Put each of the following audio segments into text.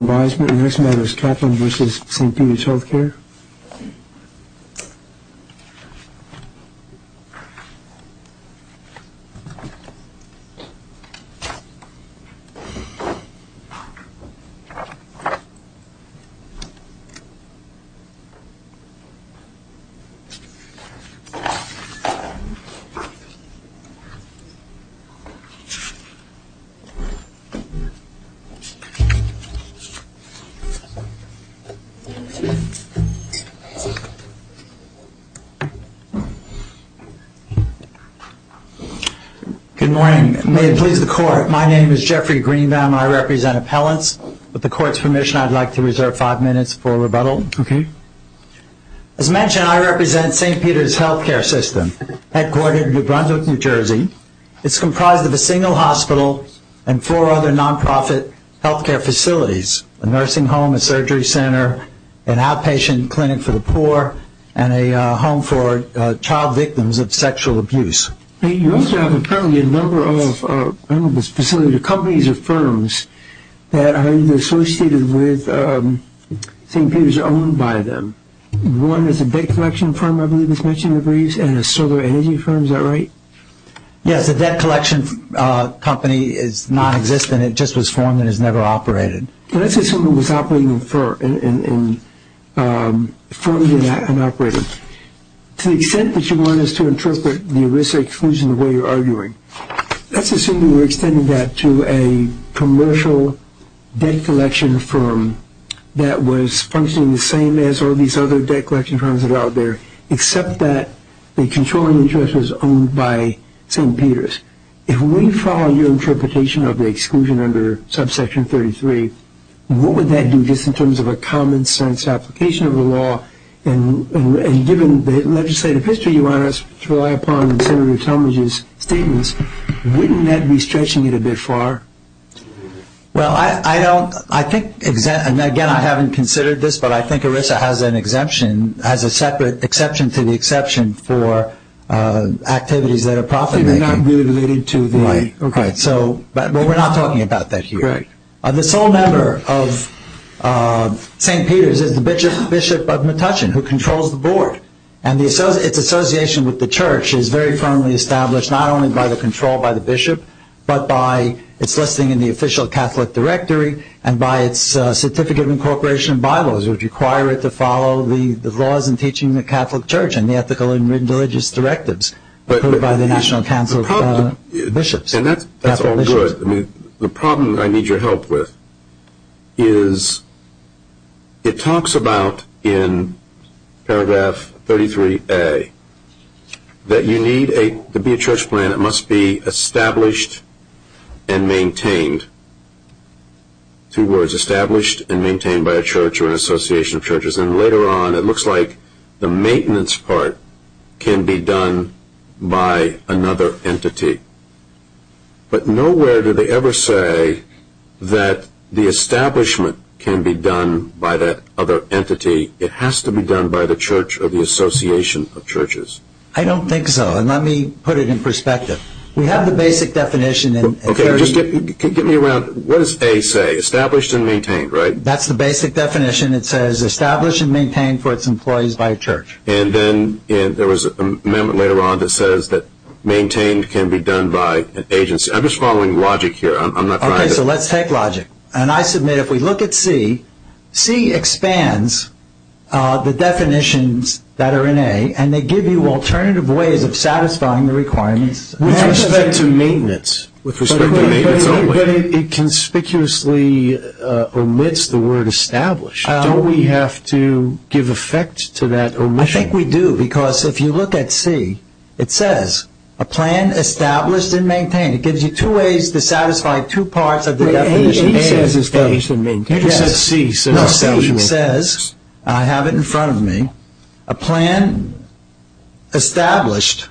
the next model is Kaplan v. Saint Peter's Healthcare System, headquartered in New Brunswick, New Jersey. It's comprised of a single hospital and four other non-profit healthcare facilities, a nursing home, a surgery center, an outpatient clinic for the poor, and a home for child victims of sexual abuse. You also have a number of facilities, companies or firms that are associated with Saint Peter's owned by them. One is a debt collection firm, I believe it's mentioned in the briefs, and a solar energy firm, is that right? Yes, the debt collection company is non-existent, it just was formed and has never operated. Let's assume it was formed and operated. To the extent that you want us to interpret the risk exclusion the way you're arguing, let's assume that we're extending that to a commercial debt collection firm that was functioning the same as all these other debt collection firms that are out there, except that the controlling interest was owned by Saint Peter's. If we follow your interpretation of the exclusion under subsection 33, what would that do just in terms of a common sense application of the law, and given the legislative history you want us to rely upon in Senator Talmadge's statements, wouldn't that be stretching it a bit far? Again, I haven't considered this, but I think ERISA has a separate exception to the exception for activities that are profit making. They're not really related to the... Right, but we're not talking about that here. Right. The sole member of Saint Peter's is the Bishop of Metuchen, who controls the board, and its association with the church is very firmly established, not only by the control by the blessing in the official Catholic directory, and by its certificate of incorporation of Bibles, which require it to follow the laws in teaching the Catholic church and the ethical and religious directives put by the National Council of Bishops. And that's all good. The problem I need your help with is it talks about in paragraph 33A that you need to be established and maintained. Two words, established and maintained by a church or an association of churches. And later on it looks like the maintenance part can be done by another entity. But nowhere do they ever say that the establishment can be done by that other entity. It has to be done by the church or the association of churches. I don't think so. And let me put it in perspective. We have the basic definition... Okay, just get me around. What does A say? Established and maintained, right? That's the basic definition. It says established and maintained for its employees by a church. And then there was an amendment later on that says that maintained can be done by an agency. I'm just following logic here. I'm not trying to... Okay, so let's take logic. And I submit if we look at C, C expands the definitions that are in A and they give you alternative ways of satisfying the requirements. With respect to maintenance. But it conspicuously omits the word established. Don't we have to give effect to that omission? I think we do because if you look at C, it says a plan established and maintained. It gives you two ways to satisfy two parts of the definition. But A says established and maintained. It says C. No, C says, I have it in front of me, a plan established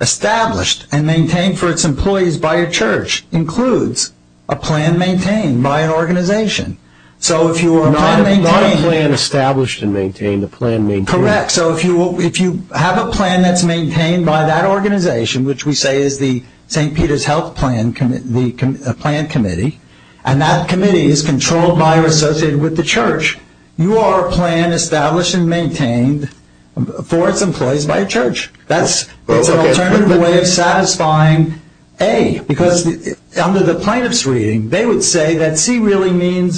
and maintained for its employees by a church includes a plan maintained by an organization. So if you are a plan maintained... Not a plan established and maintained, a plan maintained. Correct. So if you have a plan that's maintained by that organization, which we say is the St. Peter's Health Plan Committee, and that committee is controlled by or associated with the church, you are a plan established and maintained for its employees by a church. That's an alternative way of satisfying A. Because under the plaintiff's reading, they would say that C really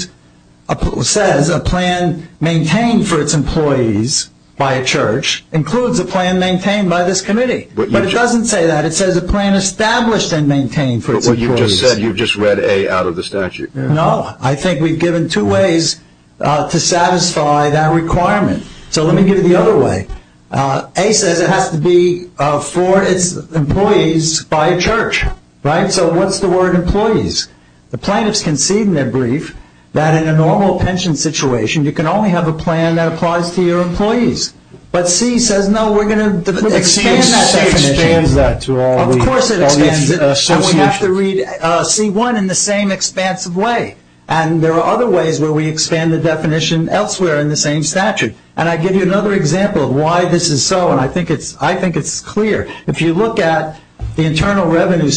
says a plan maintained for its employees by a church includes a plan maintained by this committee. But it doesn't say that. It says a plan established and maintained for its employees. But you just said you just read A out of the statute. No. I think we've given two ways to satisfy that requirement. So let me give you the other way. A says it has to be for its employees by a church. Right? So what's the word employees? The plaintiffs concede in their brief that in a normal pension situation, you can only have a plan that applies to your employees. But C says, no, we're going to expand that definition. But C expands that to all the associations. Of course it expands it. And we have to read C1 in the same expansive way. And there are other ways where we expand the definition elsewhere in the same statute. And I give you another example of why this is so, and I think it's clear. If you look at the Internal Revenue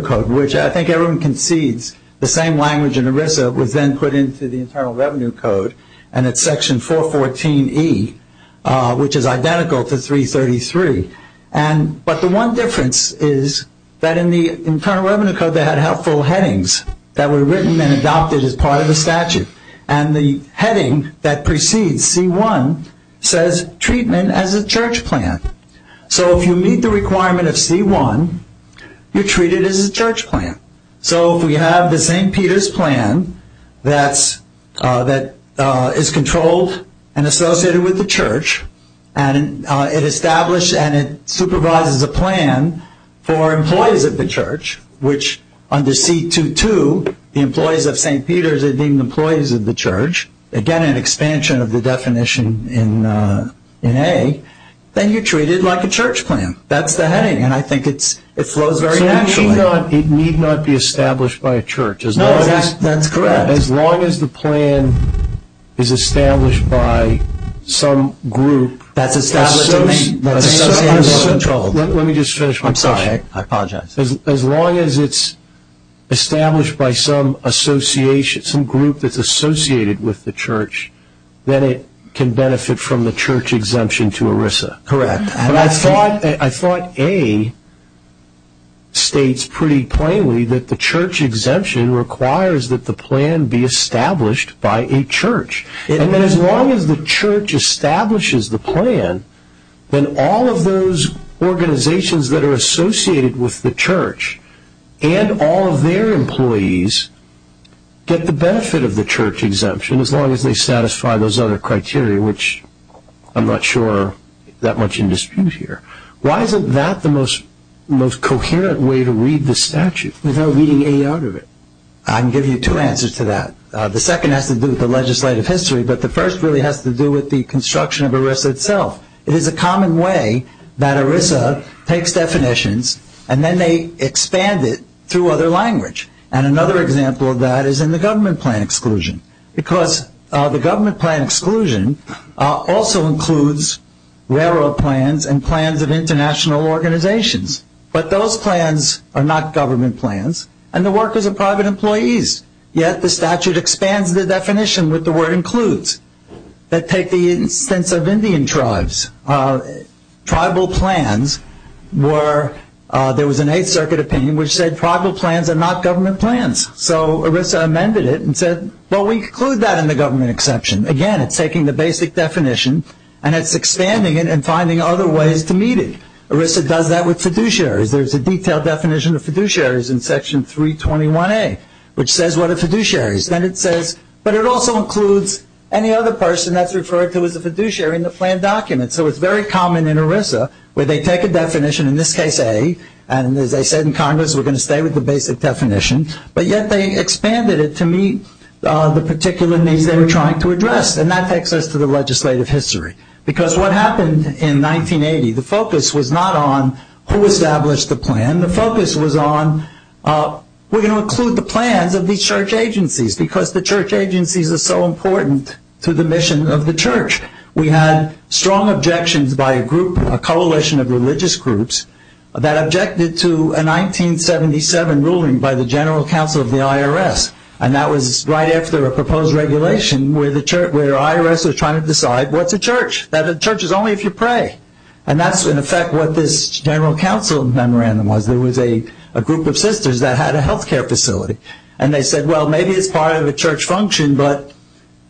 Code, which I think everyone concedes, the same language in ERISA was then put into the Internal Revenue Code, and it's Section 414E, which is identical to 333. But the one difference is that in the Internal Revenue Code, they had helpful headings that were written and adopted as part of the statute. And the heading that precedes C1 says treatment as a church plan. So if you meet the requirement of C1, you're treated as a church plan. So if we have the St. Peter's plan that is controlled and associated with the church, and it establishes and it supervises a plan for employees of the church, which under C2.2, the employees of St. Peter's are deemed employees of the church, again an expansion of the definition in A, then you're treated like a church plan. That's the heading, and I think it flows very naturally. So it need not be established by a church. No, that's correct. As long as the plan is established by some group. That's established to me. Let me just finish my question. I'm sorry. I apologize. As long as it's established by some association, some group that's associated with the church, then it can benefit from the church exemption to ERISA. Correct. I thought A states pretty plainly that the church exemption requires that the plan be established by a church. And then as long as the church establishes the plan, then all of those organizations that are associated with the church and all of their employees get the benefit of the church exemption, as long as they satisfy those other criteria, which I'm not sure that much in dispute here. Why isn't that the most coherent way to read the statute? Without reading any out of it. I can give you two answers to that. The second has to do with the legislative history, but the first really has to do with the construction of ERISA itself. It is a common way that ERISA takes definitions and then they expand it through other language. And another example of that is in the government plan exclusion. Because the government plan exclusion also includes railroad plans and plans of international organizations. But those plans are not government plans, and the workers are private employees. Yet the statute expands the definition with the word includes. That take the instance of Indian tribes. Tribal plans were, there was an Eighth Circuit opinion which said tribal plans are not government plans. So ERISA amended it and said, well, we include that in the government exception. Again, it's taking the basic definition and it's expanding it and finding other ways to meet it. ERISA does that with fiduciaries. There's a detailed definition of fiduciaries in Section 321A, which says what are fiduciaries. Then it says, but it also includes any other person that's referred to as a fiduciary in the plan document. So it's very common in ERISA where they take a definition, in this case A, and as they said in Congress we're going to stay with the basic definition. But yet they expanded it to meet the particular needs they were trying to address. And that takes us to the legislative history. Because what happened in 1980, the focus was not on who established the plan. The focus was on we're going to include the plans of these church agencies because the church agencies are so important to the mission of the church. We had strong objections by a group, a coalition of religious groups, that objected to a 1977 ruling by the General Counsel of the IRS. And that was right after a proposed regulation where the IRS was trying to decide what's a church. That a church is only if you pray. And that's in effect what this General Counsel memorandum was. It was a group of sisters that had a health care facility. And they said, well, maybe it's part of a church function, but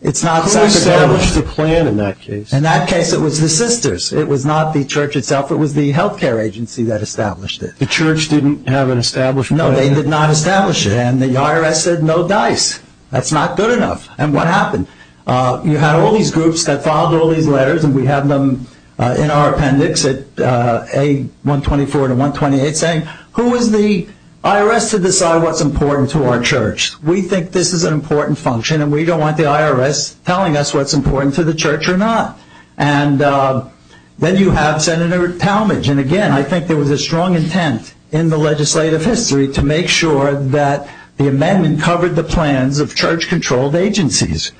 it's not sacramental. Who established the plan in that case? In that case it was the sisters. It was not the church itself. It was the health care agency that established it. The church didn't have an established plan? No, they did not establish it. And the IRS said, no dice. That's not good enough. And what happened? You had all these groups that filed all these letters, and we have them in our appendix at A124 to 128 saying, who is the IRS to decide what's important to our church? We think this is an important function, and we don't want the IRS telling us what's important to the church or not. And then you have Senator Talmadge. And, again, I think there was a strong intent in the legislative history to make sure that the amendment covered the plans of church-controlled agencies,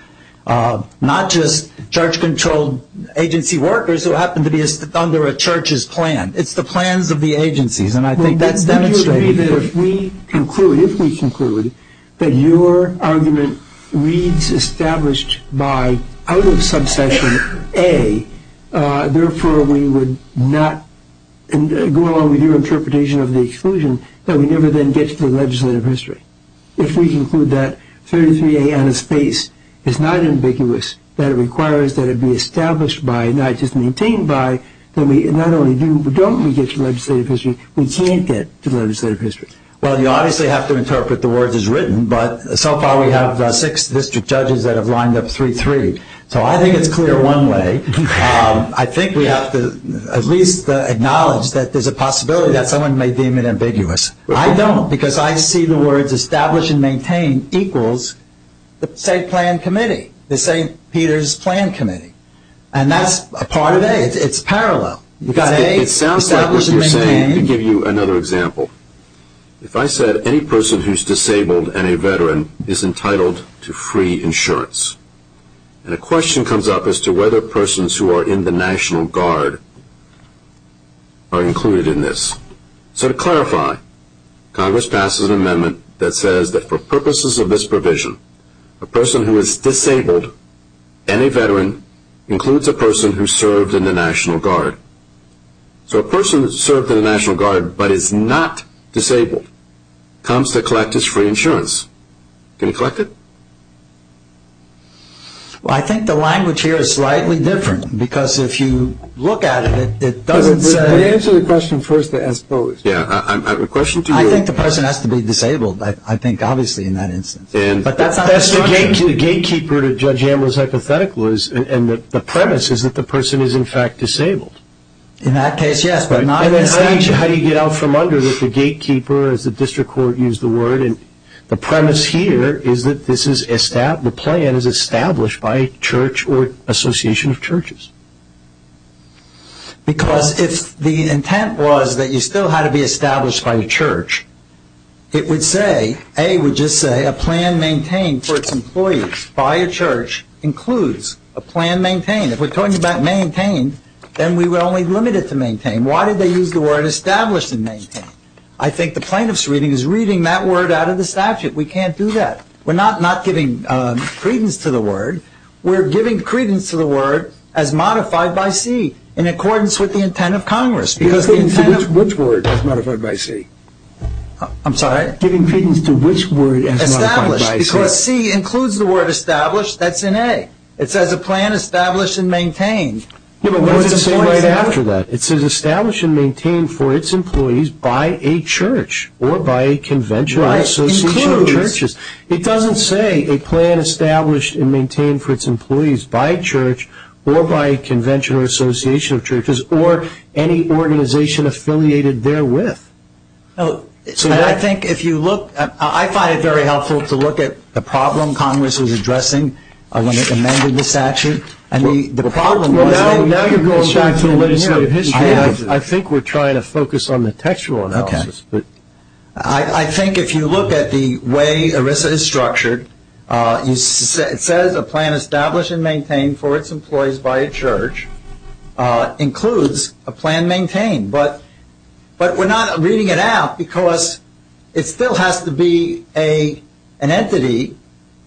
not just church-controlled agency workers who happened to be under a church's plan. It's the plans of the agencies, and I think that's demonstrated. Would you agree that if we conclude that your argument reads established by, out of subsection A, therefore we would not go along with your interpretation of the exclusion, that we never then get to the legislative history? If we conclude that 33A out of space is not ambiguous, that it requires that it be established by, not just maintained by, that we not only don't get to legislative history, we can't get to legislative history? Well, you obviously have to interpret the words as written, but so far we have six district judges that have lined up 3-3. So I think it's clear one way. I think we have to at least acknowledge that there's a possibility that someone may deem it ambiguous. I don't, because I see the words established and maintained equals the St. Peter's Plan Committee. And that's a part of A. It's parallel. It sounds like what you're saying, to give you another example. If I said any person who's disabled and a veteran is entitled to free insurance, and a question comes up as to whether persons who are in the National Guard are included in this. So to clarify, Congress passes an amendment that says that for purposes of this provision, a person who is disabled and a veteran includes a person who served in the National Guard. So a person who served in the National Guard but is not disabled comes to collect his free insurance. Can he collect it? Well, I think the language here is slightly different, because if you look at it, it doesn't say. Let me answer the question first as posed. Yeah. I have a question to you. I think the person has to be disabled, I think, obviously, in that instance. But that's not the structure. That's the gatekeeper to Judge Amler's hypothetical, and the premise is that the person is, in fact, disabled. In that case, yes, but not in this nature. How do you get out from under the gatekeeper, as the district court used the word? And the premise here is that the plan is established by a church or association of churches. Because if the intent was that you still had to be established by a church, it would say, A, would just say a plan maintained for its employees by a church includes a plan maintained. If we're talking about maintained, then we were only limited to maintained. Why did they use the word established and maintained? I think the plaintiff's reading is reading that word out of the statute. We can't do that. We're not giving credence to the word. We're giving credence to the word as modified by C in accordance with the intent of Congress. Which word is modified by C? I'm sorry? Giving credence to which word as modified by C? Established, because C includes the word established. That's in A. It says a plan established and maintained. What does it say right after that? It says established and maintained for its employees by a church or by a convention or association of churches. It doesn't say a plan established and maintained for its employees by a church or by a convention or association of churches or any organization affiliated therewith. I find it very helpful to look at the problem Congress was addressing when it amended the statute. Now you're going back to the legislative history. I think we're trying to focus on the textual analysis. I think if you look at the way ERISA is structured, it says a plan established and maintained for its employees by a church includes a plan maintained. But we're not reading it out because it still has to be an entity.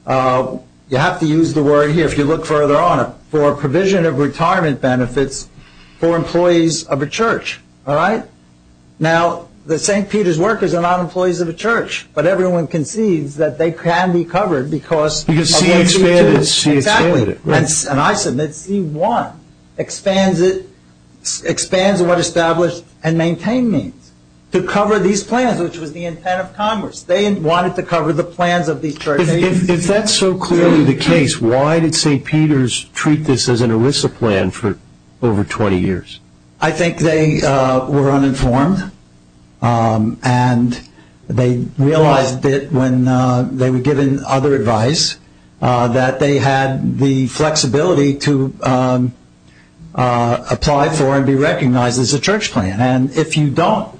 You have to use the word here, if you look further on it, for a provision of retirement benefits for employees of a church. All right? Now the St. Peter's workers are not employees of a church, but everyone concedes that they can be covered because of their churches. Because C expanded it. Exactly. And I submit C1 expands what established and maintained means, to cover these plans, which was the intent of Congress. They wanted to cover the plans of these churches. If that's so clearly the case, why did St. Peter's treat this as an ERISA plan for over 20 years? I think they were uninformed, and they realized that when they were given other advice, that they had the flexibility to apply for and be recognized as a church plan. And if you don't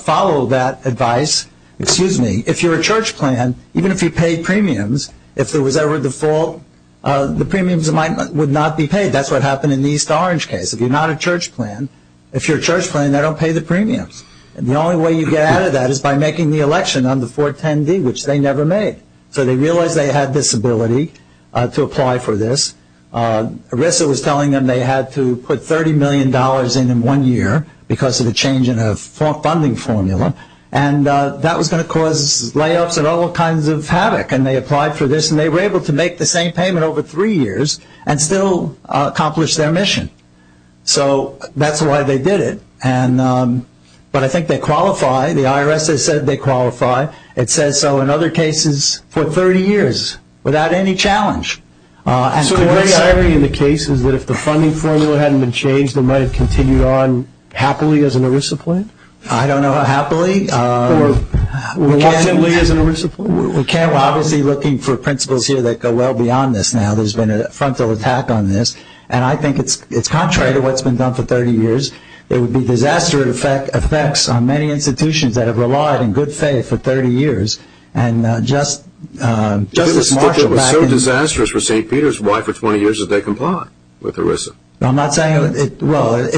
follow that advice, excuse me, if you're a church plan, even if you paid premiums, if there was ever a default, the premiums would not be paid. That's what happened in the East Orange case. If you're not a church plan, if you're a church plan, they don't pay the premiums. And the only way you get out of that is by making the election on the 410D, which they never made. So they realized they had this ability to apply for this. ERISA was telling them they had to put $30 million in in one year because of a change in a funding formula, and that was going to cause layups and all kinds of havoc. And they applied for this, and they were able to make the same payment over three years and still accomplish their mission. So that's why they did it. But I think they qualify. The IRS has said they qualify. It says so in other cases for 30 years without any challenge. So the great irony in the case is that if the funding formula hadn't been changed, they might have continued on happily as an ERISA plan? I don't know how happily. Or reluctantly as an ERISA plan? We can't. We're obviously looking for principles here that go well beyond this now. There's been a frontal attack on this. And I think it's contrary to what's been done for 30 years. There would be disastrous effects on many institutions that have relied in good faith for 30 years. And Justice Marshall back in the day. It was so disastrous for St. Peter's. Why for 20 years did they comply with ERISA? I'm not saying it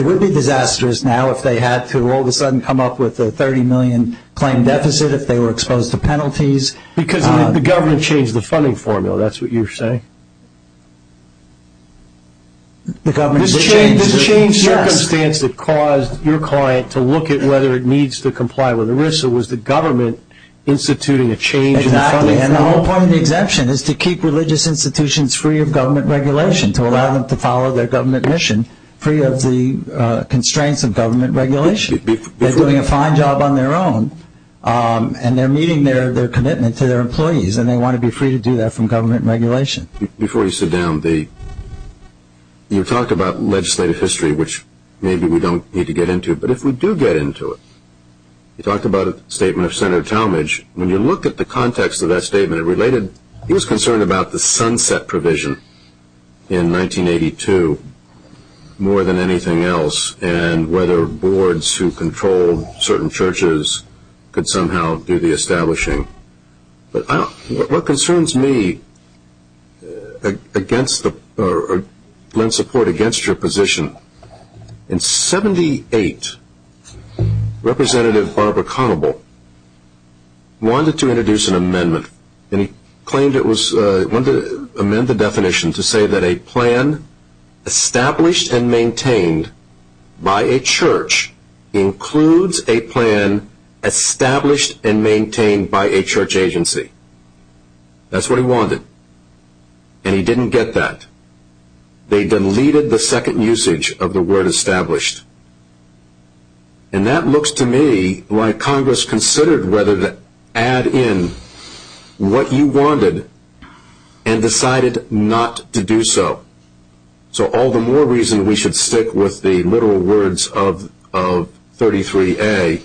would be disastrous now if they had to all of a sudden come up with a $30 million claim deficit, if they were exposed to penalties. Because the government changed the funding formula. That's what you're saying? This changed the circumstance that caused your client to look at whether it needs to comply with ERISA. Was the government instituting a change in the funding formula? Exactly. And the whole point of the exemption is to keep religious institutions free of government regulation, to allow them to follow their government mission free of the constraints of government regulation. They're doing a fine job on their own. And they're meeting their commitment to their employees. And they want to be free to do that from government regulation. Before you sit down, you talked about legislative history, which maybe we don't need to get into. But if we do get into it, you talked about a statement of Senator Talmadge. When you look at the context of that statement, it related. He was concerned about the sunset provision in 1982 more than anything else. And whether boards who controlled certain churches could somehow do the establishing. But what concerns me against or lend support against your position, in 78, Representative Barbara Conable wanted to introduce an amendment. And he claimed it was, wanted to amend the definition to say that a plan established and maintained by a church includes a plan established and maintained by a church agency. That's what he wanted. And he didn't get that. They deleted the second usage of the word established. And that looks to me like Congress considered whether to add in what you wanted and decided not to do so. So all the more reason we should stick with the literal words of 33A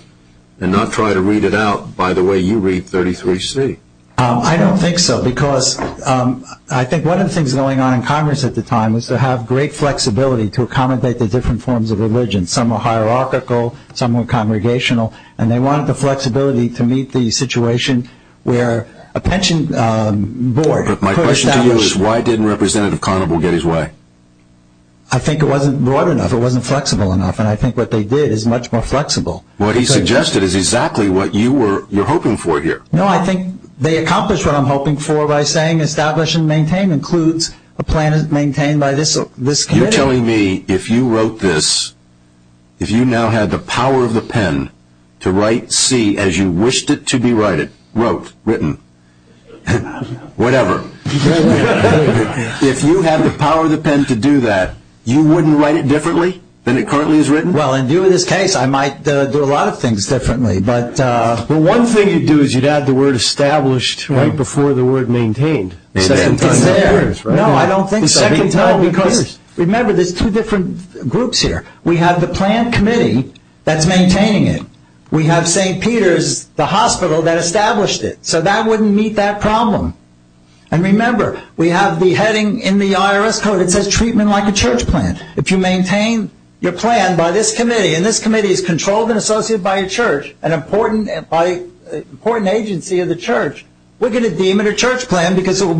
and not try to read it out by the way you read 33C. I don't think so because I think one of the things going on in Congress at the time was to have great flexibility to accommodate the different forms of religion. Some were hierarchical. Some were congregational. And they wanted the flexibility to meet the situation where a pension board could establish. My question to you is why didn't Representative Conable get his way? I think it wasn't broad enough. It wasn't flexible enough. And I think what they did is much more flexible. What he suggested is exactly what you're hoping for here. No, I think they accomplished what I'm hoping for by saying establish and maintain includes a plan maintained by this committee. You're telling me if you wrote this, if you now had the power of the pen to write C as you wished it to be written, wrote, written, whatever, if you had the power of the pen to do that, you wouldn't write it differently than it currently is written? Well, in view of this case, I might do a lot of things differently. Well, one thing you'd do is you'd add the word established right before the word maintained. It's there. No, I don't think so. Because remember there's two different groups here. We have the plan committee that's maintaining it. We have St. Peter's, the hospital that established it. So that wouldn't meet that problem. And remember, we have the heading in the IRS code that says treatment like a church plan. If you maintain your plan by this committee, and this committee is controlled and associated by a church, an important agency of the church, we're going to deem it a church plan Thank you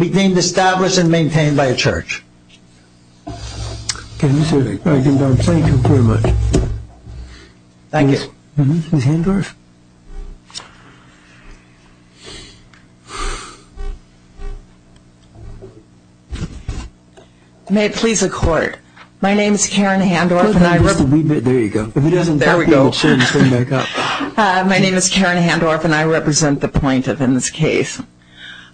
very much. Thank you. May it please the Court. My name is Karen Handorf. There you go. There we go. My name is Karen Handorf, and I represent the plaintiff in this case.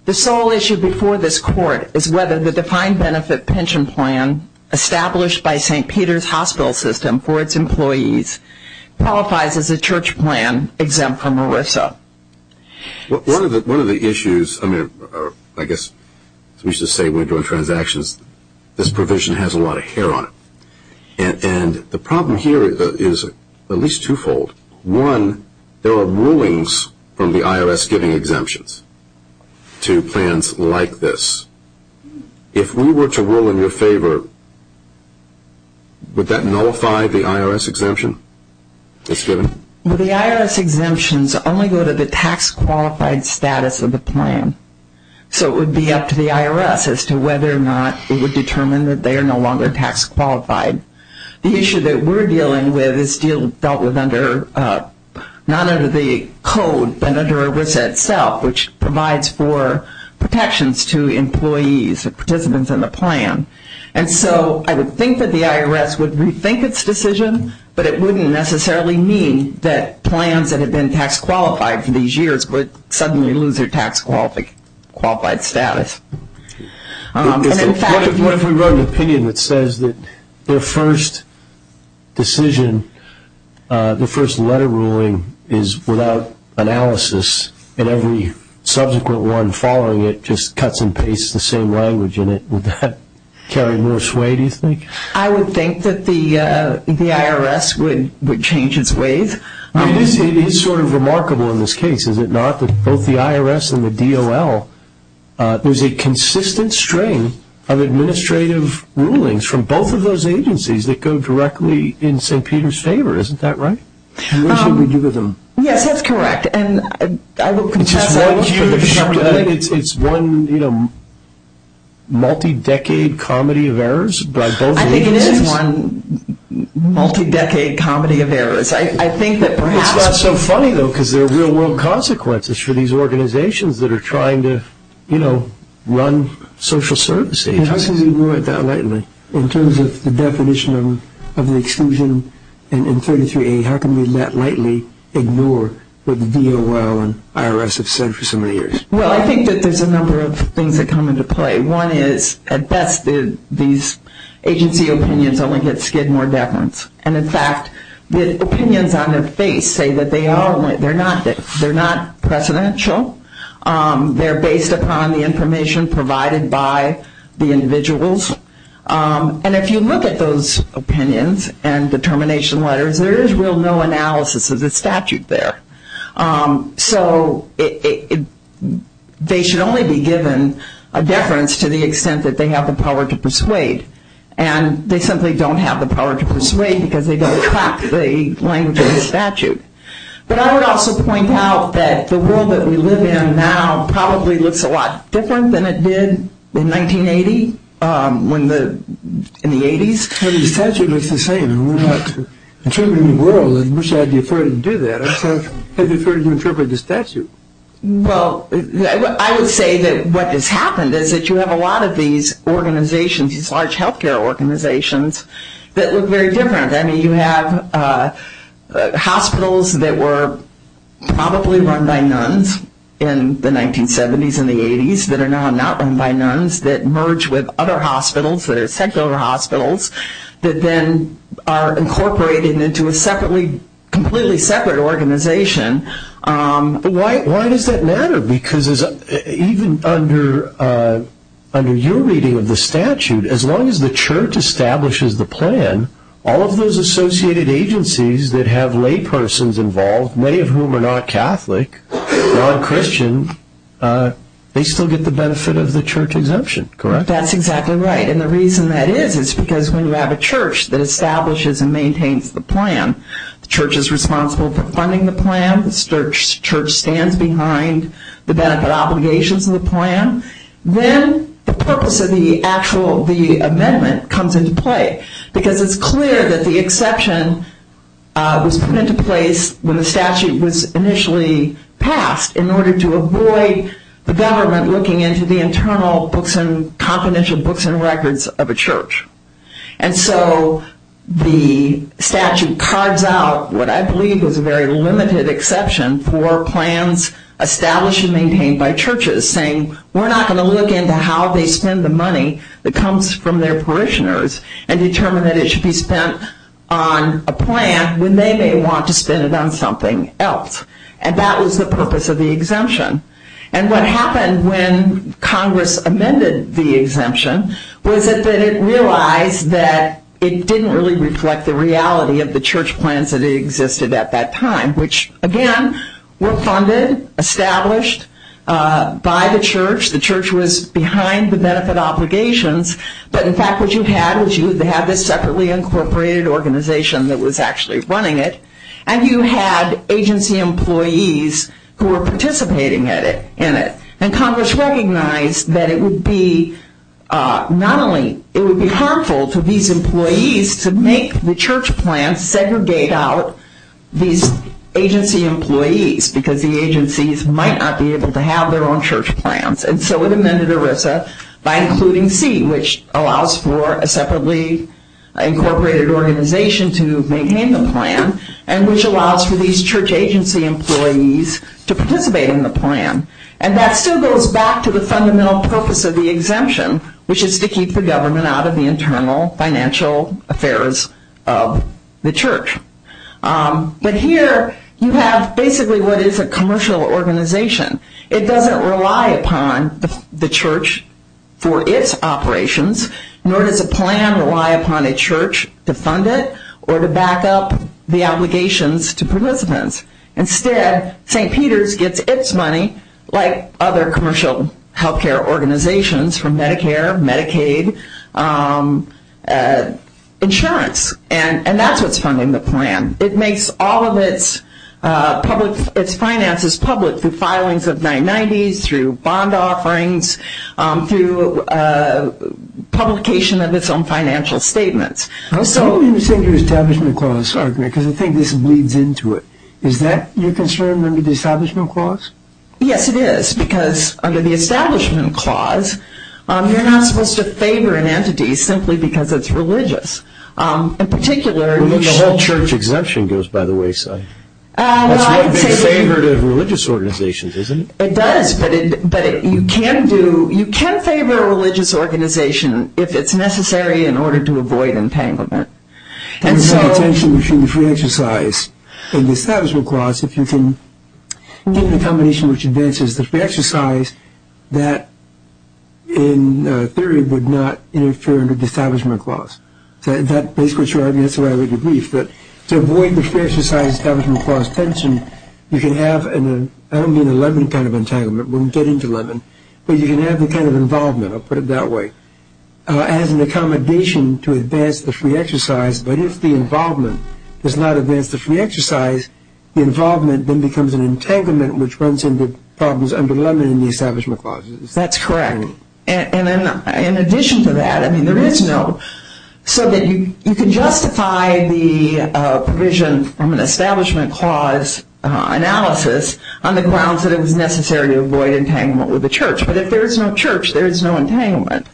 The sole issue before this Court is whether the defined benefit pension plan established by St. Peter's hospital system for its employees qualifies as a church plan exempt from ERISA. One of the issues, I mean, I guess we should say when we're doing transactions, this provision has a lot of hair on it. And the problem here is at least twofold. One, there are rulings from the IRS giving exemptions to plans like this. If we were to rule in your favor, would that nullify the IRS exemption it's given? Well, the IRS exemptions only go to the tax qualified status of the plan. So it would be up to the IRS as to whether or not it would determine that they are no longer tax qualified. The issue that we're dealing with is dealt with under, not under the code, but under ERISA itself, which provides for protections to employees, participants in the plan. And so I would think that the IRS would rethink its decision, but it wouldn't necessarily mean that plans that have been tax qualified for these years would suddenly lose their tax qualified status. What if we wrote an opinion that says that their first decision, their first letter ruling is without analysis and every subsequent one following it just cuts and pastes the same language in it? Would that carry more sway, do you think? I would think that the IRS would change its ways. It is sort of remarkable in this case, is it not? That both the IRS and the DOL, there's a consistent string of administrative rulings from both of those agencies that go directly in St. Peter's favor. Isn't that right? What should we do with them? Yes, that's correct. And I will contest that. It's one, you know, multi-decade comedy of errors by both agencies? I think it is one multi-decade comedy of errors. It's not so funny, though, because there are real-world consequences for these organizations that are trying to, you know, run social services. How can we do it that lightly? In terms of the definition of exclusion in 33A, how can we that lightly ignore what the DOL and IRS have said for so many years? Well, I think that there's a number of things that come into play. One is, at best, these agency opinions only get skid more deference. And, in fact, the opinions on their face say that they're not precedential. They're based upon the information provided by the individuals. And if you look at those opinions and determination letters, there is real no analysis of the statute there. So they should only be given a deference to the extent that they have the power to persuade. And they simply don't have the power to persuade because they don't track the language of the statute. But I would also point out that the world that we live in now probably looks a lot different than it did in 1980, in the 80s. The statute looks the same. We're not interpreting the world. I wish I had the authority to do that. I still have the authority to interpret the statute. Well, I would say that what has happened is that you have a lot of these organizations, these large health care organizations, that look very different. I mean, you have hospitals that were probably run by nuns in the 1970s and the 80s that are now not run by nuns that merge with other hospitals, that are secular hospitals that then are incorporated into a completely separate organization. Why does that matter? Because even under your reading of the statute, as long as the church establishes the plan, all of those associated agencies that have laypersons involved, many of whom are not Catholic, non-Christian, they still get the benefit of the church exemption, correct? That's exactly right. And the reason that is is because when you have a church that establishes and maintains the plan, the church is responsible for funding the plan. The church stands behind the benefit obligations of the plan. Then the purpose of the actual amendment comes into play because it's clear that the exception was put into place when the statute was initially passed in order to avoid the government looking into the internal books and confidential books and records of a church. And so the statute cards out what I believe was a very limited exception for plans established and maintained by churches, saying we're not going to look into how they spend the money that comes from their parishioners and determine that it should be spent on a plan when they may want to spend it on something else. And that was the purpose of the exemption. And what happened when Congress amended the exemption was that it realized that it didn't really reflect the reality of the church plans that existed at that time, which, again, were funded, established by the church. The church was behind the benefit obligations. But, in fact, what you had was you had this separately incorporated organization that was actually running it, and you had agency employees who were participating in it. And Congress recognized that it would be harmful to these employees to make the church plans segregate out these agency employees because the agencies might not be able to have their own church plans. And so it amended ERISA by including C, which allows for a separately incorporated organization to maintain the plan, and which allows for these church agency employees to participate in the plan. And that still goes back to the fundamental purpose of the exemption, which is to keep the government out of the internal financial affairs of the church. But here you have basically what is a commercial organization. It doesn't rely upon the church for its operations, nor does a plan rely upon a church to fund it or to back up the obligations to participants. Instead, St. Peter's gets its money, like other commercial health care organizations, from Medicare, Medicaid, insurance, and that's what's funding the plan. It makes all of its finances public through filings of 990s, through bond offerings, through publication of its own financial statements. I was wondering what you were saying about the Establishment Clause argument, because I think this bleeds into it. Is that your concern under the Establishment Clause? Yes, it is, because under the Establishment Clause, you're not supposed to favor an entity simply because it's religious. The whole church exemption goes by the wayside. That's one big favorite of religious organizations, isn't it? It does, but you can favor a religious organization if it's necessary in order to avoid entanglement. There's no tension between the free exercise and the Establishment Clause if you can get the combination which advances the free exercise that, in theory, would not interfere under the Establishment Clause. That's the way I would agree. But to avoid the free exercise Establishment Clause tension, you can have, I don't mean a lemon kind of entanglement, we won't get into lemon, but you can have the kind of involvement, I'll put it that way, as an accommodation to advance the free exercise, but if the involvement does not advance the free exercise, the involvement then becomes an entanglement, which runs into problems under lemon in the Establishment Clause. That's correct. And in addition to that, I mean, there is no, so that you can justify the provision from an Establishment Clause analysis on the grounds that it was necessary to avoid entanglement with the church. But if there is no church, there is no entanglement.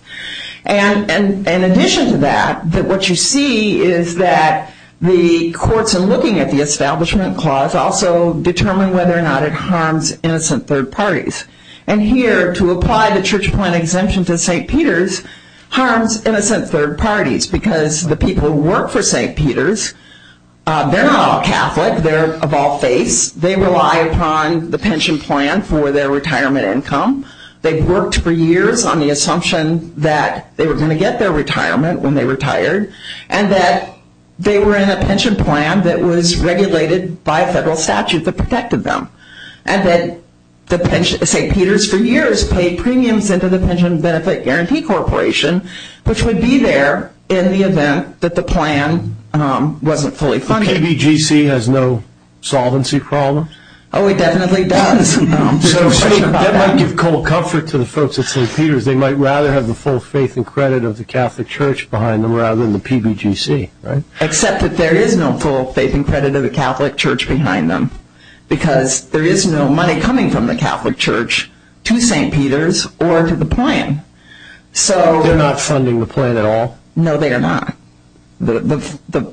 And in addition to that, what you see is that the courts, in looking at the Establishment Clause, also determine whether or not it harms innocent third parties. And here, to apply the Church Point Exemption to St. Peter's, harms innocent third parties because the people who work for St. Peter's, they're not all Catholic, they're of all faiths, they rely upon the pension plan for their retirement income, they've worked for years on the assumption that they were going to get their retirement when they retired, and that they were in a pension plan that was regulated by a federal statute that protected them. And that St. Peter's, for years, paid premiums into the Pension Benefit Guarantee Corporation, which would be there in the event that the plan wasn't fully funded. KBGC has no solvency problem? Oh, it definitely does. So that might give cold comfort to the folks at St. Peter's. They might rather have the full faith and credit of the Catholic Church behind them rather than the PBGC, right? Except that there is no full faith and credit of the Catholic Church behind them because there is no money coming from the Catholic Church to St. Peter's or to the plan. They're not funding the plan at all? No, they are not. The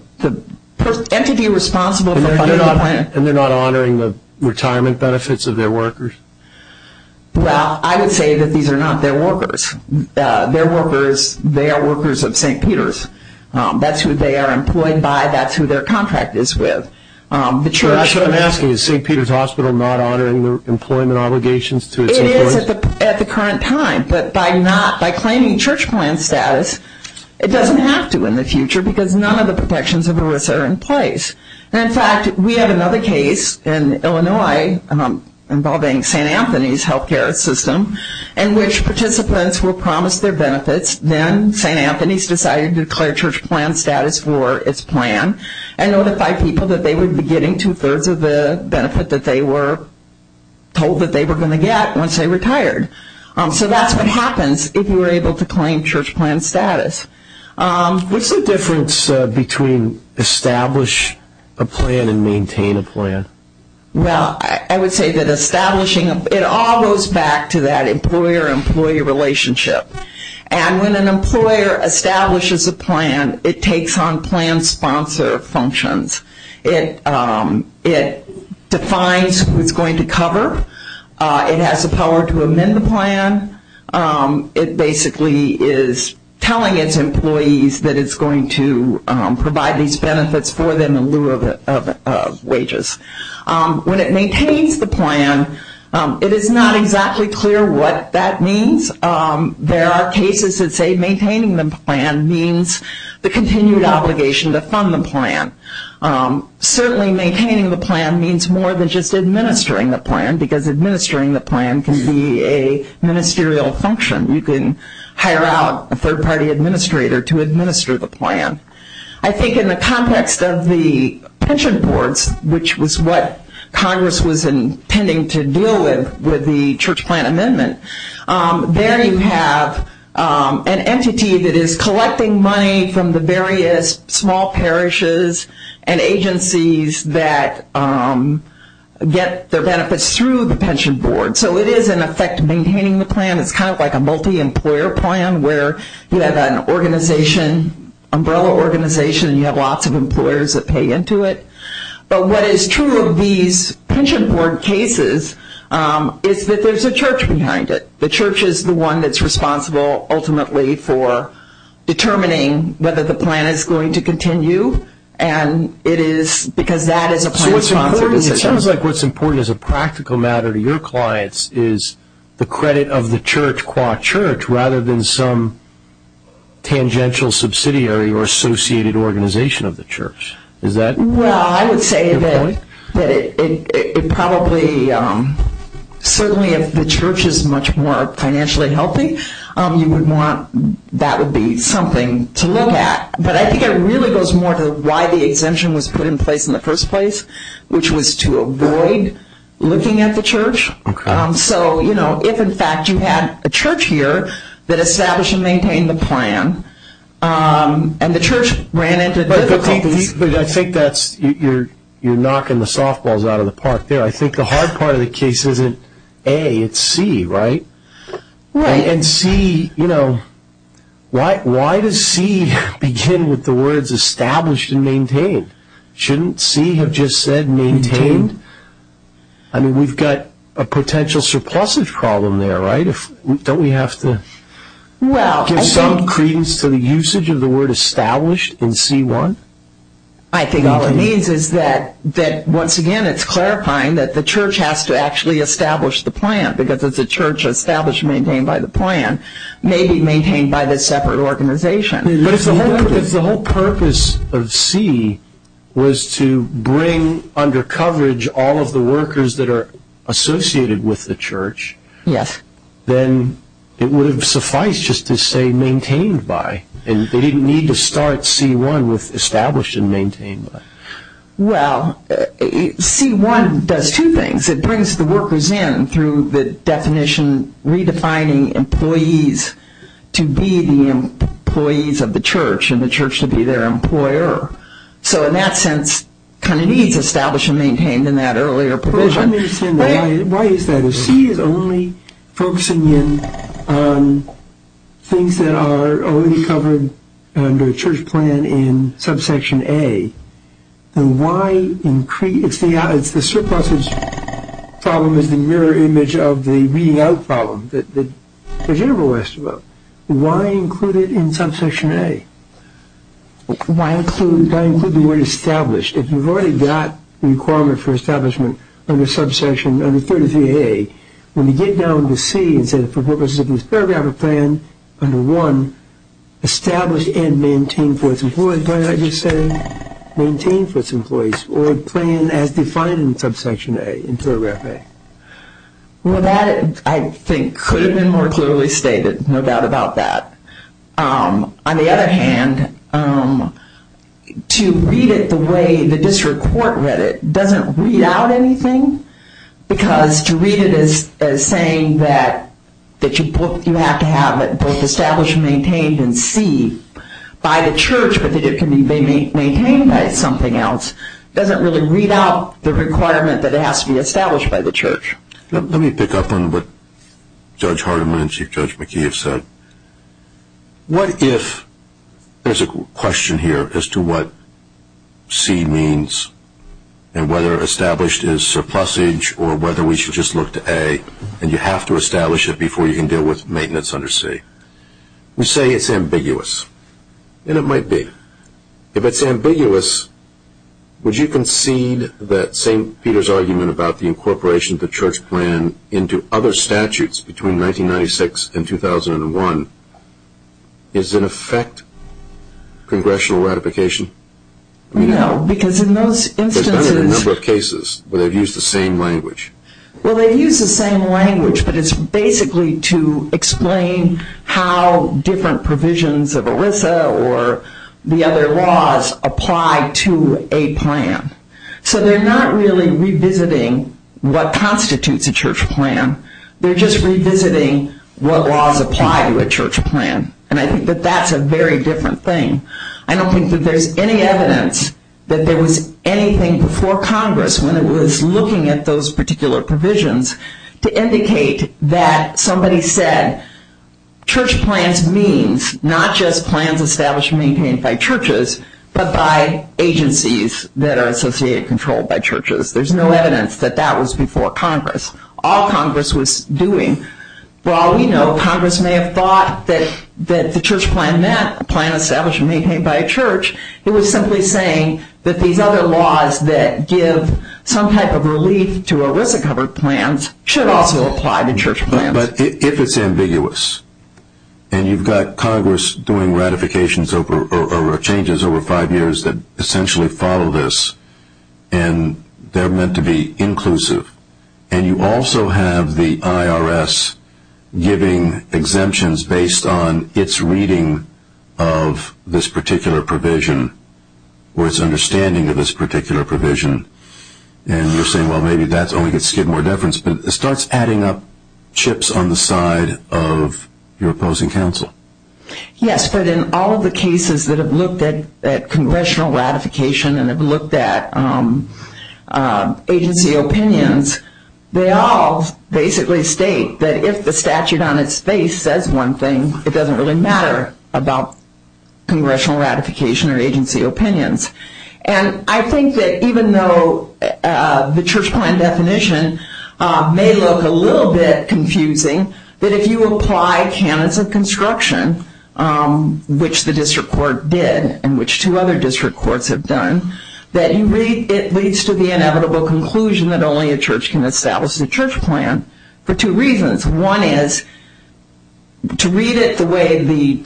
entity responsible for funding the plan... And they're not honoring the retirement benefits of their workers? Well, I would say that these are not their workers. Their workers, they are workers of St. Peter's. That's who they are employed by. That's who their contract is with. So what I'm asking, is St. Peter's Hospital not honoring the employment obligations to its employees? It is at the current time. But by claiming church plan status, it doesn't have to in the future because none of the protections of ERISA are in place. In fact, we have another case in Illinois involving St. Anthony's health care system in which participants were promised their benefits. Then St. Anthony's decided to declare church plan status for its plan and notify people that they would be getting two-thirds of the benefit that they were told that they were going to get once they retired. So that's what happens if you are able to claim church plan status. What's the difference between establish a plan and maintain a plan? Well, I would say that establishing a plan, it all goes back to that employer-employee relationship. And when an employer establishes a plan, it takes on plan sponsor functions. It defines who it's going to cover. It has the power to amend the plan. It basically is telling its employees that it's going to provide these benefits for them in lieu of wages. When it maintains the plan, it is not exactly clear what that means. There are cases that say maintaining the plan means the continued obligation to fund the plan. Certainly maintaining the plan means more than just administering the plan because administering the plan can be a ministerial function. You can hire out a third-party administrator to administer the plan. I think in the context of the pension boards, which was what Congress was intending to deal with with the church plan amendment, there you have an entity that is collecting money from the various small parishes and agencies that get their benefits through the pension board. So it is, in effect, maintaining the plan. It's kind of like a multi-employer plan where you have an umbrella organization and you have lots of employers that pay into it. But what is true of these pension board cases is that there's a church behind it. The church is the one that's responsible ultimately for determining whether the plan is going to continue because that is a plan-sponsored decision. It sounds like what's important as a practical matter to your clients is the credit of the church qua church rather than some tangential subsidiary or associated organization of the church. Well, I would say that it probably, certainly if the church is much more financially healthy, that would be something to look at. But I think it really goes more to why the exemption was put in place in the first place, which was to avoid looking at the church. So if, in fact, you had a church here that established and maintained the plan and the church ran into difficulties. But I think you're knocking the softballs out of the park there. I think the hard part of the case isn't A, it's C, right? Right. And C, you know, why does C begin with the words established and maintained? Shouldn't C have just said maintained? I mean, we've got a potential surplusage problem there, right? Don't we have to give some credence to the usage of the word established in C-1? I think all it means is that, once again, it's clarifying that the church has to actually establish the plan because it's a church established and maintained by the plan, maybe maintained by the separate organization. But if the whole purpose of C was to bring under coverage all of the workers that are associated with the church, then it would have sufficed just to say maintained by, and they didn't need to start C-1 with established and maintained by. Well, C-1 does two things. It brings the workers in through the definition redefining employees to be the employees of the church and the church to be their employer. So in that sense, kind of needs established and maintained in that earlier provision. Let me understand why is that? If C is only focusing in on things that are already covered under a church plan in subsection A, then why increase, it's the surpluses problem is the mirror image of the reading out problem that the general asked about. Why include it in subsection A? Why include the word established? If you've already got the requirement for establishment under subsection, under 33A, when you get down to C and say for purposes of this paragraph of plan under 1, establish and maintain for its employees, maintain for its employees or plan as defined in subsection A, in paragraph A? Well, that I think could have been more clearly stated, no doubt about that. On the other hand, to read it the way the district court read it doesn't read out anything because to read it as saying that you have to have it both established and maintained in C by the church, but that it can be maintained by something else, doesn't really read out the requirement that it has to be established by the church. Let me pick up on what Judge Hardiman and Chief Judge McKee have said. What if there's a question here as to what C means and whether established is surplusage or whether we should just look to A and you have to establish it before you can deal with maintenance under C? We say it's ambiguous, and it might be. If it's ambiguous, would you concede that St. Peter's argument about the incorporation of the church plan into other statutes between 1996 and 2001 is in effect congressional ratification? No, because in those instances... There's been a number of cases where they've used the same language. Well, they've used the same language, but it's basically to explain how different provisions of ERISA or the other laws apply to a plan. So they're not really revisiting what constitutes a church plan. They're just revisiting what laws apply to a church plan, and I think that that's a very different thing. I don't think that there's any evidence that there was anything before Congress when it was looking at those particular provisions to indicate that somebody said church plans means not just plans established and maintained by churches, but by agencies that are associated and controlled by churches. There's no evidence that that was before Congress. All Congress was doing, while we know Congress may have thought that the church plan meant a plan established and maintained by a church, it was simply saying that these other laws that give some type of relief to ERISA-covered plans should also apply to church plans. But if it's ambiguous, and you've got Congress doing ratifications or changes over five years that essentially follow this, and they're meant to be inclusive, and you also have the IRS giving exemptions based on its reading of this particular provision or its understanding of this particular provision, and you're saying, well, maybe that's only going to skid more deference, but it starts adding up chips on the side of your opposing counsel. Yes, but in all of the cases that have looked at congressional ratification and have looked at agency opinions, they all basically state that if the statute on its face says one thing, it doesn't really matter about congressional ratification or agency opinions. And I think that even though the church plan definition may look a little bit confusing, that if you apply canons of construction, which the district court did and which two other district courts have done, that it leads to the inevitable conclusion that only a church can establish a church plan for two reasons. One is to read it the way the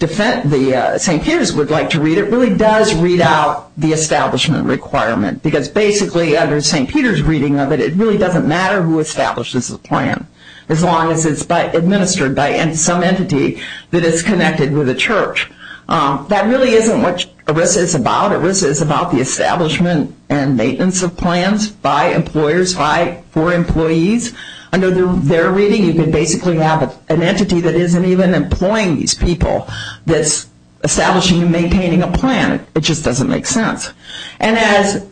St. Peter's would like to read it because it really does read out the establishment requirement because basically under St. Peter's reading of it, it really doesn't matter who establishes the plan as long as it's administered by some entity that is connected with a church. That really isn't what ERISA is about. ERISA is about the establishment and maintenance of plans by employers, by or for employees. Under their reading, you can basically have an entity that isn't even employing these people that's establishing and maintaining a plan. It just doesn't make sense. And as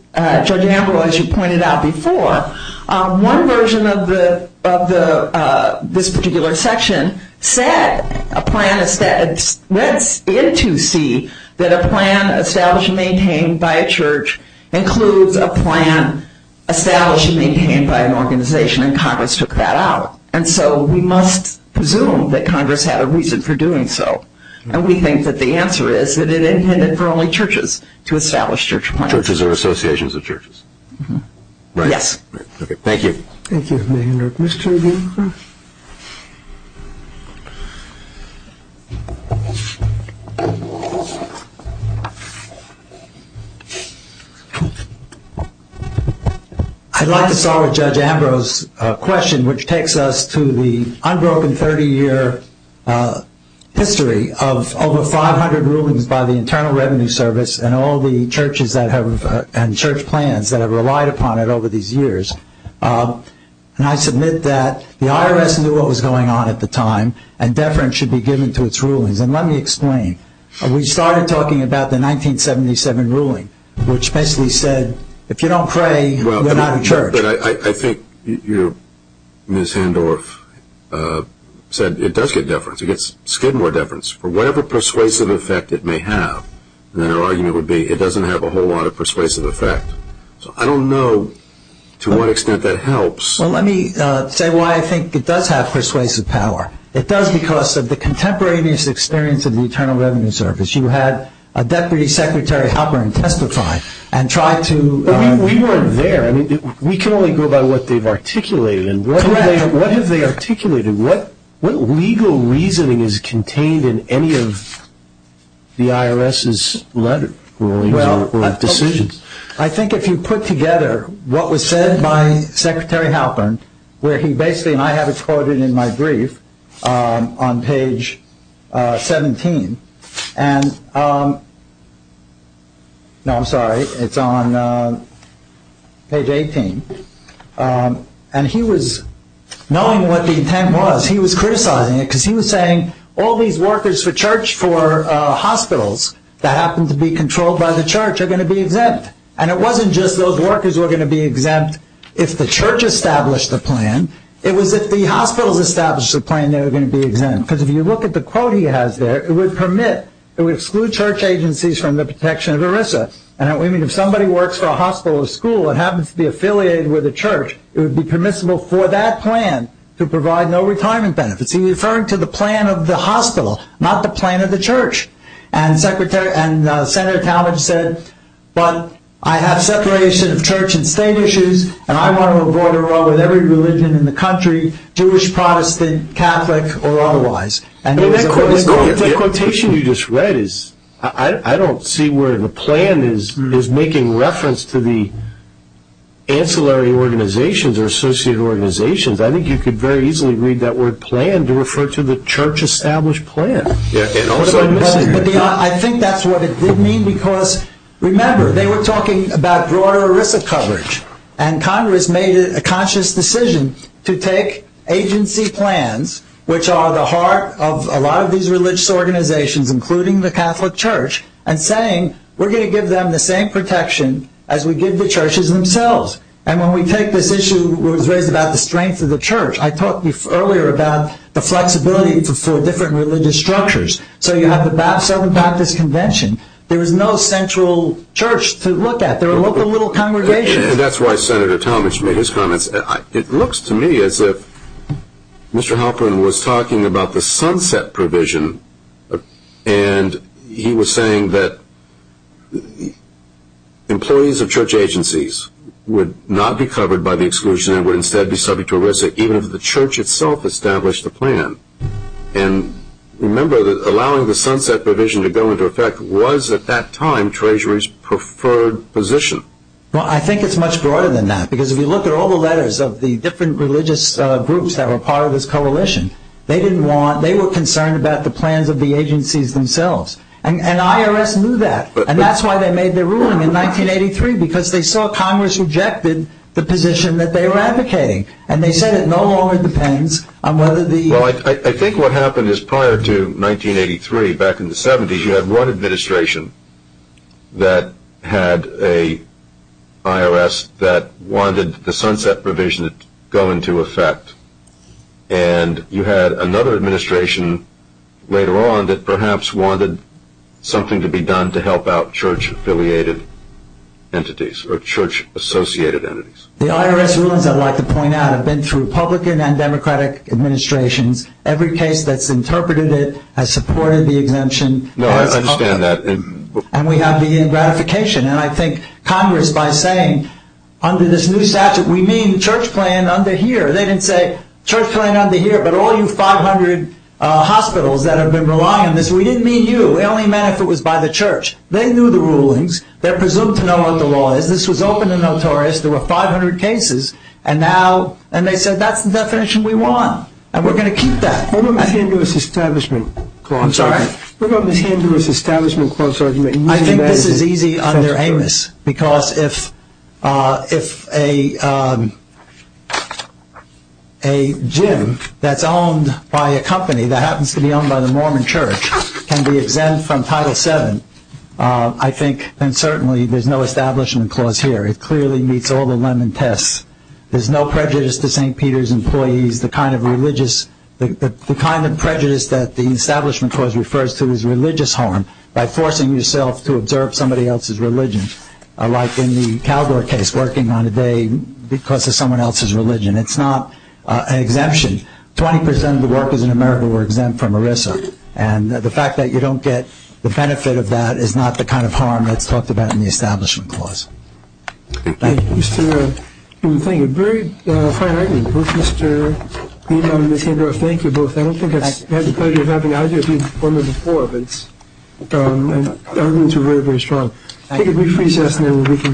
Judge Amberwell, as you pointed out before, one version of this particular section said a plan is read in to see that a plan established and maintained by a church includes a plan established and maintained by an organization, and Congress took that out. And so we must presume that Congress had a reason for doing so. And we think that the answer is that it intended for only churches to establish church plans. Churches are associations of churches. Right. Yes. Thank you. Thank you, Mr. Greenberg. I'd like to start with Judge Ambrose's question, which takes us to the unbroken 30-year history of over 500 rulings by the Internal Revenue Service and all the churches and church plans that have relied upon it over these years. And I submit that the IRS knew what was going on at the time and deference should be given to its rulings. And let me explain. We started talking about the 1977 ruling, which basically said, if you don't pray, you're not a church. But I think Ms. Handorf said it does get deference. It gets a skid more deference for whatever persuasive effect it may have. And then her argument would be it doesn't have a whole lot of persuasive effect. So I don't know to what extent that helps. Well, let me say why I think it does have persuasive power. It does because of the contemporaneous experience of the Internal Revenue Service. You had a Deputy Secretary Hopper testify and try to— But we weren't there. We can only go by what they've articulated. Correct. What have they articulated? What legal reasoning is contained in any of the IRS's letter rulings or decisions? I think if you put together what was said by Secretary Hopper, where he basically—and I have it quoted in my brief on page 17. No, I'm sorry. It's on page 18. And he was—knowing what the intent was, he was criticizing it because he was saying all these workers for church for hospitals that happen to be controlled by the church are going to be exempt. And it wasn't just those workers were going to be exempt if the church established the plan. It was if the hospitals established the plan, they were going to be exempt. Because if you look at the quote he has there, it would permit— it would exclude church agencies from the protection of ERISA. And we mean if somebody works for a hospital or school and happens to be affiliated with a church, it would be permissible for that plan to provide no retirement benefits. He's referring to the plan of the hospital, not the plan of the church. And Senator Talmadge said, but I have separation of church and state issues, and I want to avoid a row with every religion in the country, Jewish, Protestant, Catholic, or otherwise. And he was— The quotation you just read is—I don't see where the plan is making reference to the ancillary organizations or associated organizations. I think you could very easily read that word plan to refer to the church-established plan. I think that's what it did mean because, remember, they were talking about broader ERISA coverage. And Congress made a conscious decision to take agency plans, which are the heart of a lot of these religious organizations, including the Catholic Church, and saying, we're going to give them the same protection as we give the churches themselves. And when we take this issue that was raised about the strength of the church, I talked earlier about the flexibility for different religious structures. So you have the Southern Baptist Convention. There is no central church to look at. There are local little congregations. And that's why Senator Talmadge made his comments. It looks to me as if Mr. Halperin was talking about the sunset provision, and he was saying that employees of church agencies would not be covered by the exclusion and would instead be subject to ERISA even if the church itself established the plan. And remember that allowing the sunset provision to go into effect was at that time Treasury's preferred position. Well, I think it's much broader than that, because if you look at all the letters of the different religious groups that were part of this coalition, they were concerned about the plans of the agencies themselves. And IRS knew that. And that's why they made their ruling in 1983, because they saw Congress rejected the position that they were advocating. And they said it no longer depends on whether the... Well, I think what happened is prior to 1983, back in the 70s, you had one administration that had an IRS that wanted the sunset provision to go into effect. And you had another administration later on that perhaps wanted something to be done to help out church-affiliated entities or church-associated entities. The IRS rulings, I'd like to point out, have been through Republican and Democratic administrations. Every case that's interpreted it has supported the exemption. No, I understand that. And we have the gratification. And I think Congress, by saying under this new statute, we mean church plan under here, they didn't say church plan under here, but all you 500 hospitals that have been relying on this, we didn't mean you. It only meant if it was by the church. They knew the rulings. They're presumed to know what the law is. This was open and notorious. There were 500 cases. And now... And they said that's the definition we want. And we're going to keep that. What about the Handlers Establishment Clause argument? I'm sorry? What about the Handlers Establishment Clause argument? I think this is easy under Amos. Because if a gym that's owned by a company that happens to be owned by the Mormon church can be exempt from Title VII, I think then certainly there's no Establishment Clause here. It clearly meets all the lemon tests. There's no prejudice to St. Peter's employees, the kind of religious... the kind of prejudice that the Establishment Clause refers to as religious harm by forcing yourself to observe somebody else's religion, like in the Caldor case, working on a day because of someone else's religion. It's not an exemption. Twenty percent of the workers in America were exempt from ERISA. And the fact that you don't get the benefit of that is not the kind of harm that's talked about in the Establishment Clause. Thank you. Thank you. Thank you. Very fine argument. Both Mr. Beeman and Ms. Hendra, thank you both. I don't think it's the pleasure of having either of you before me before, but the arguments are very, very strong. Thank you.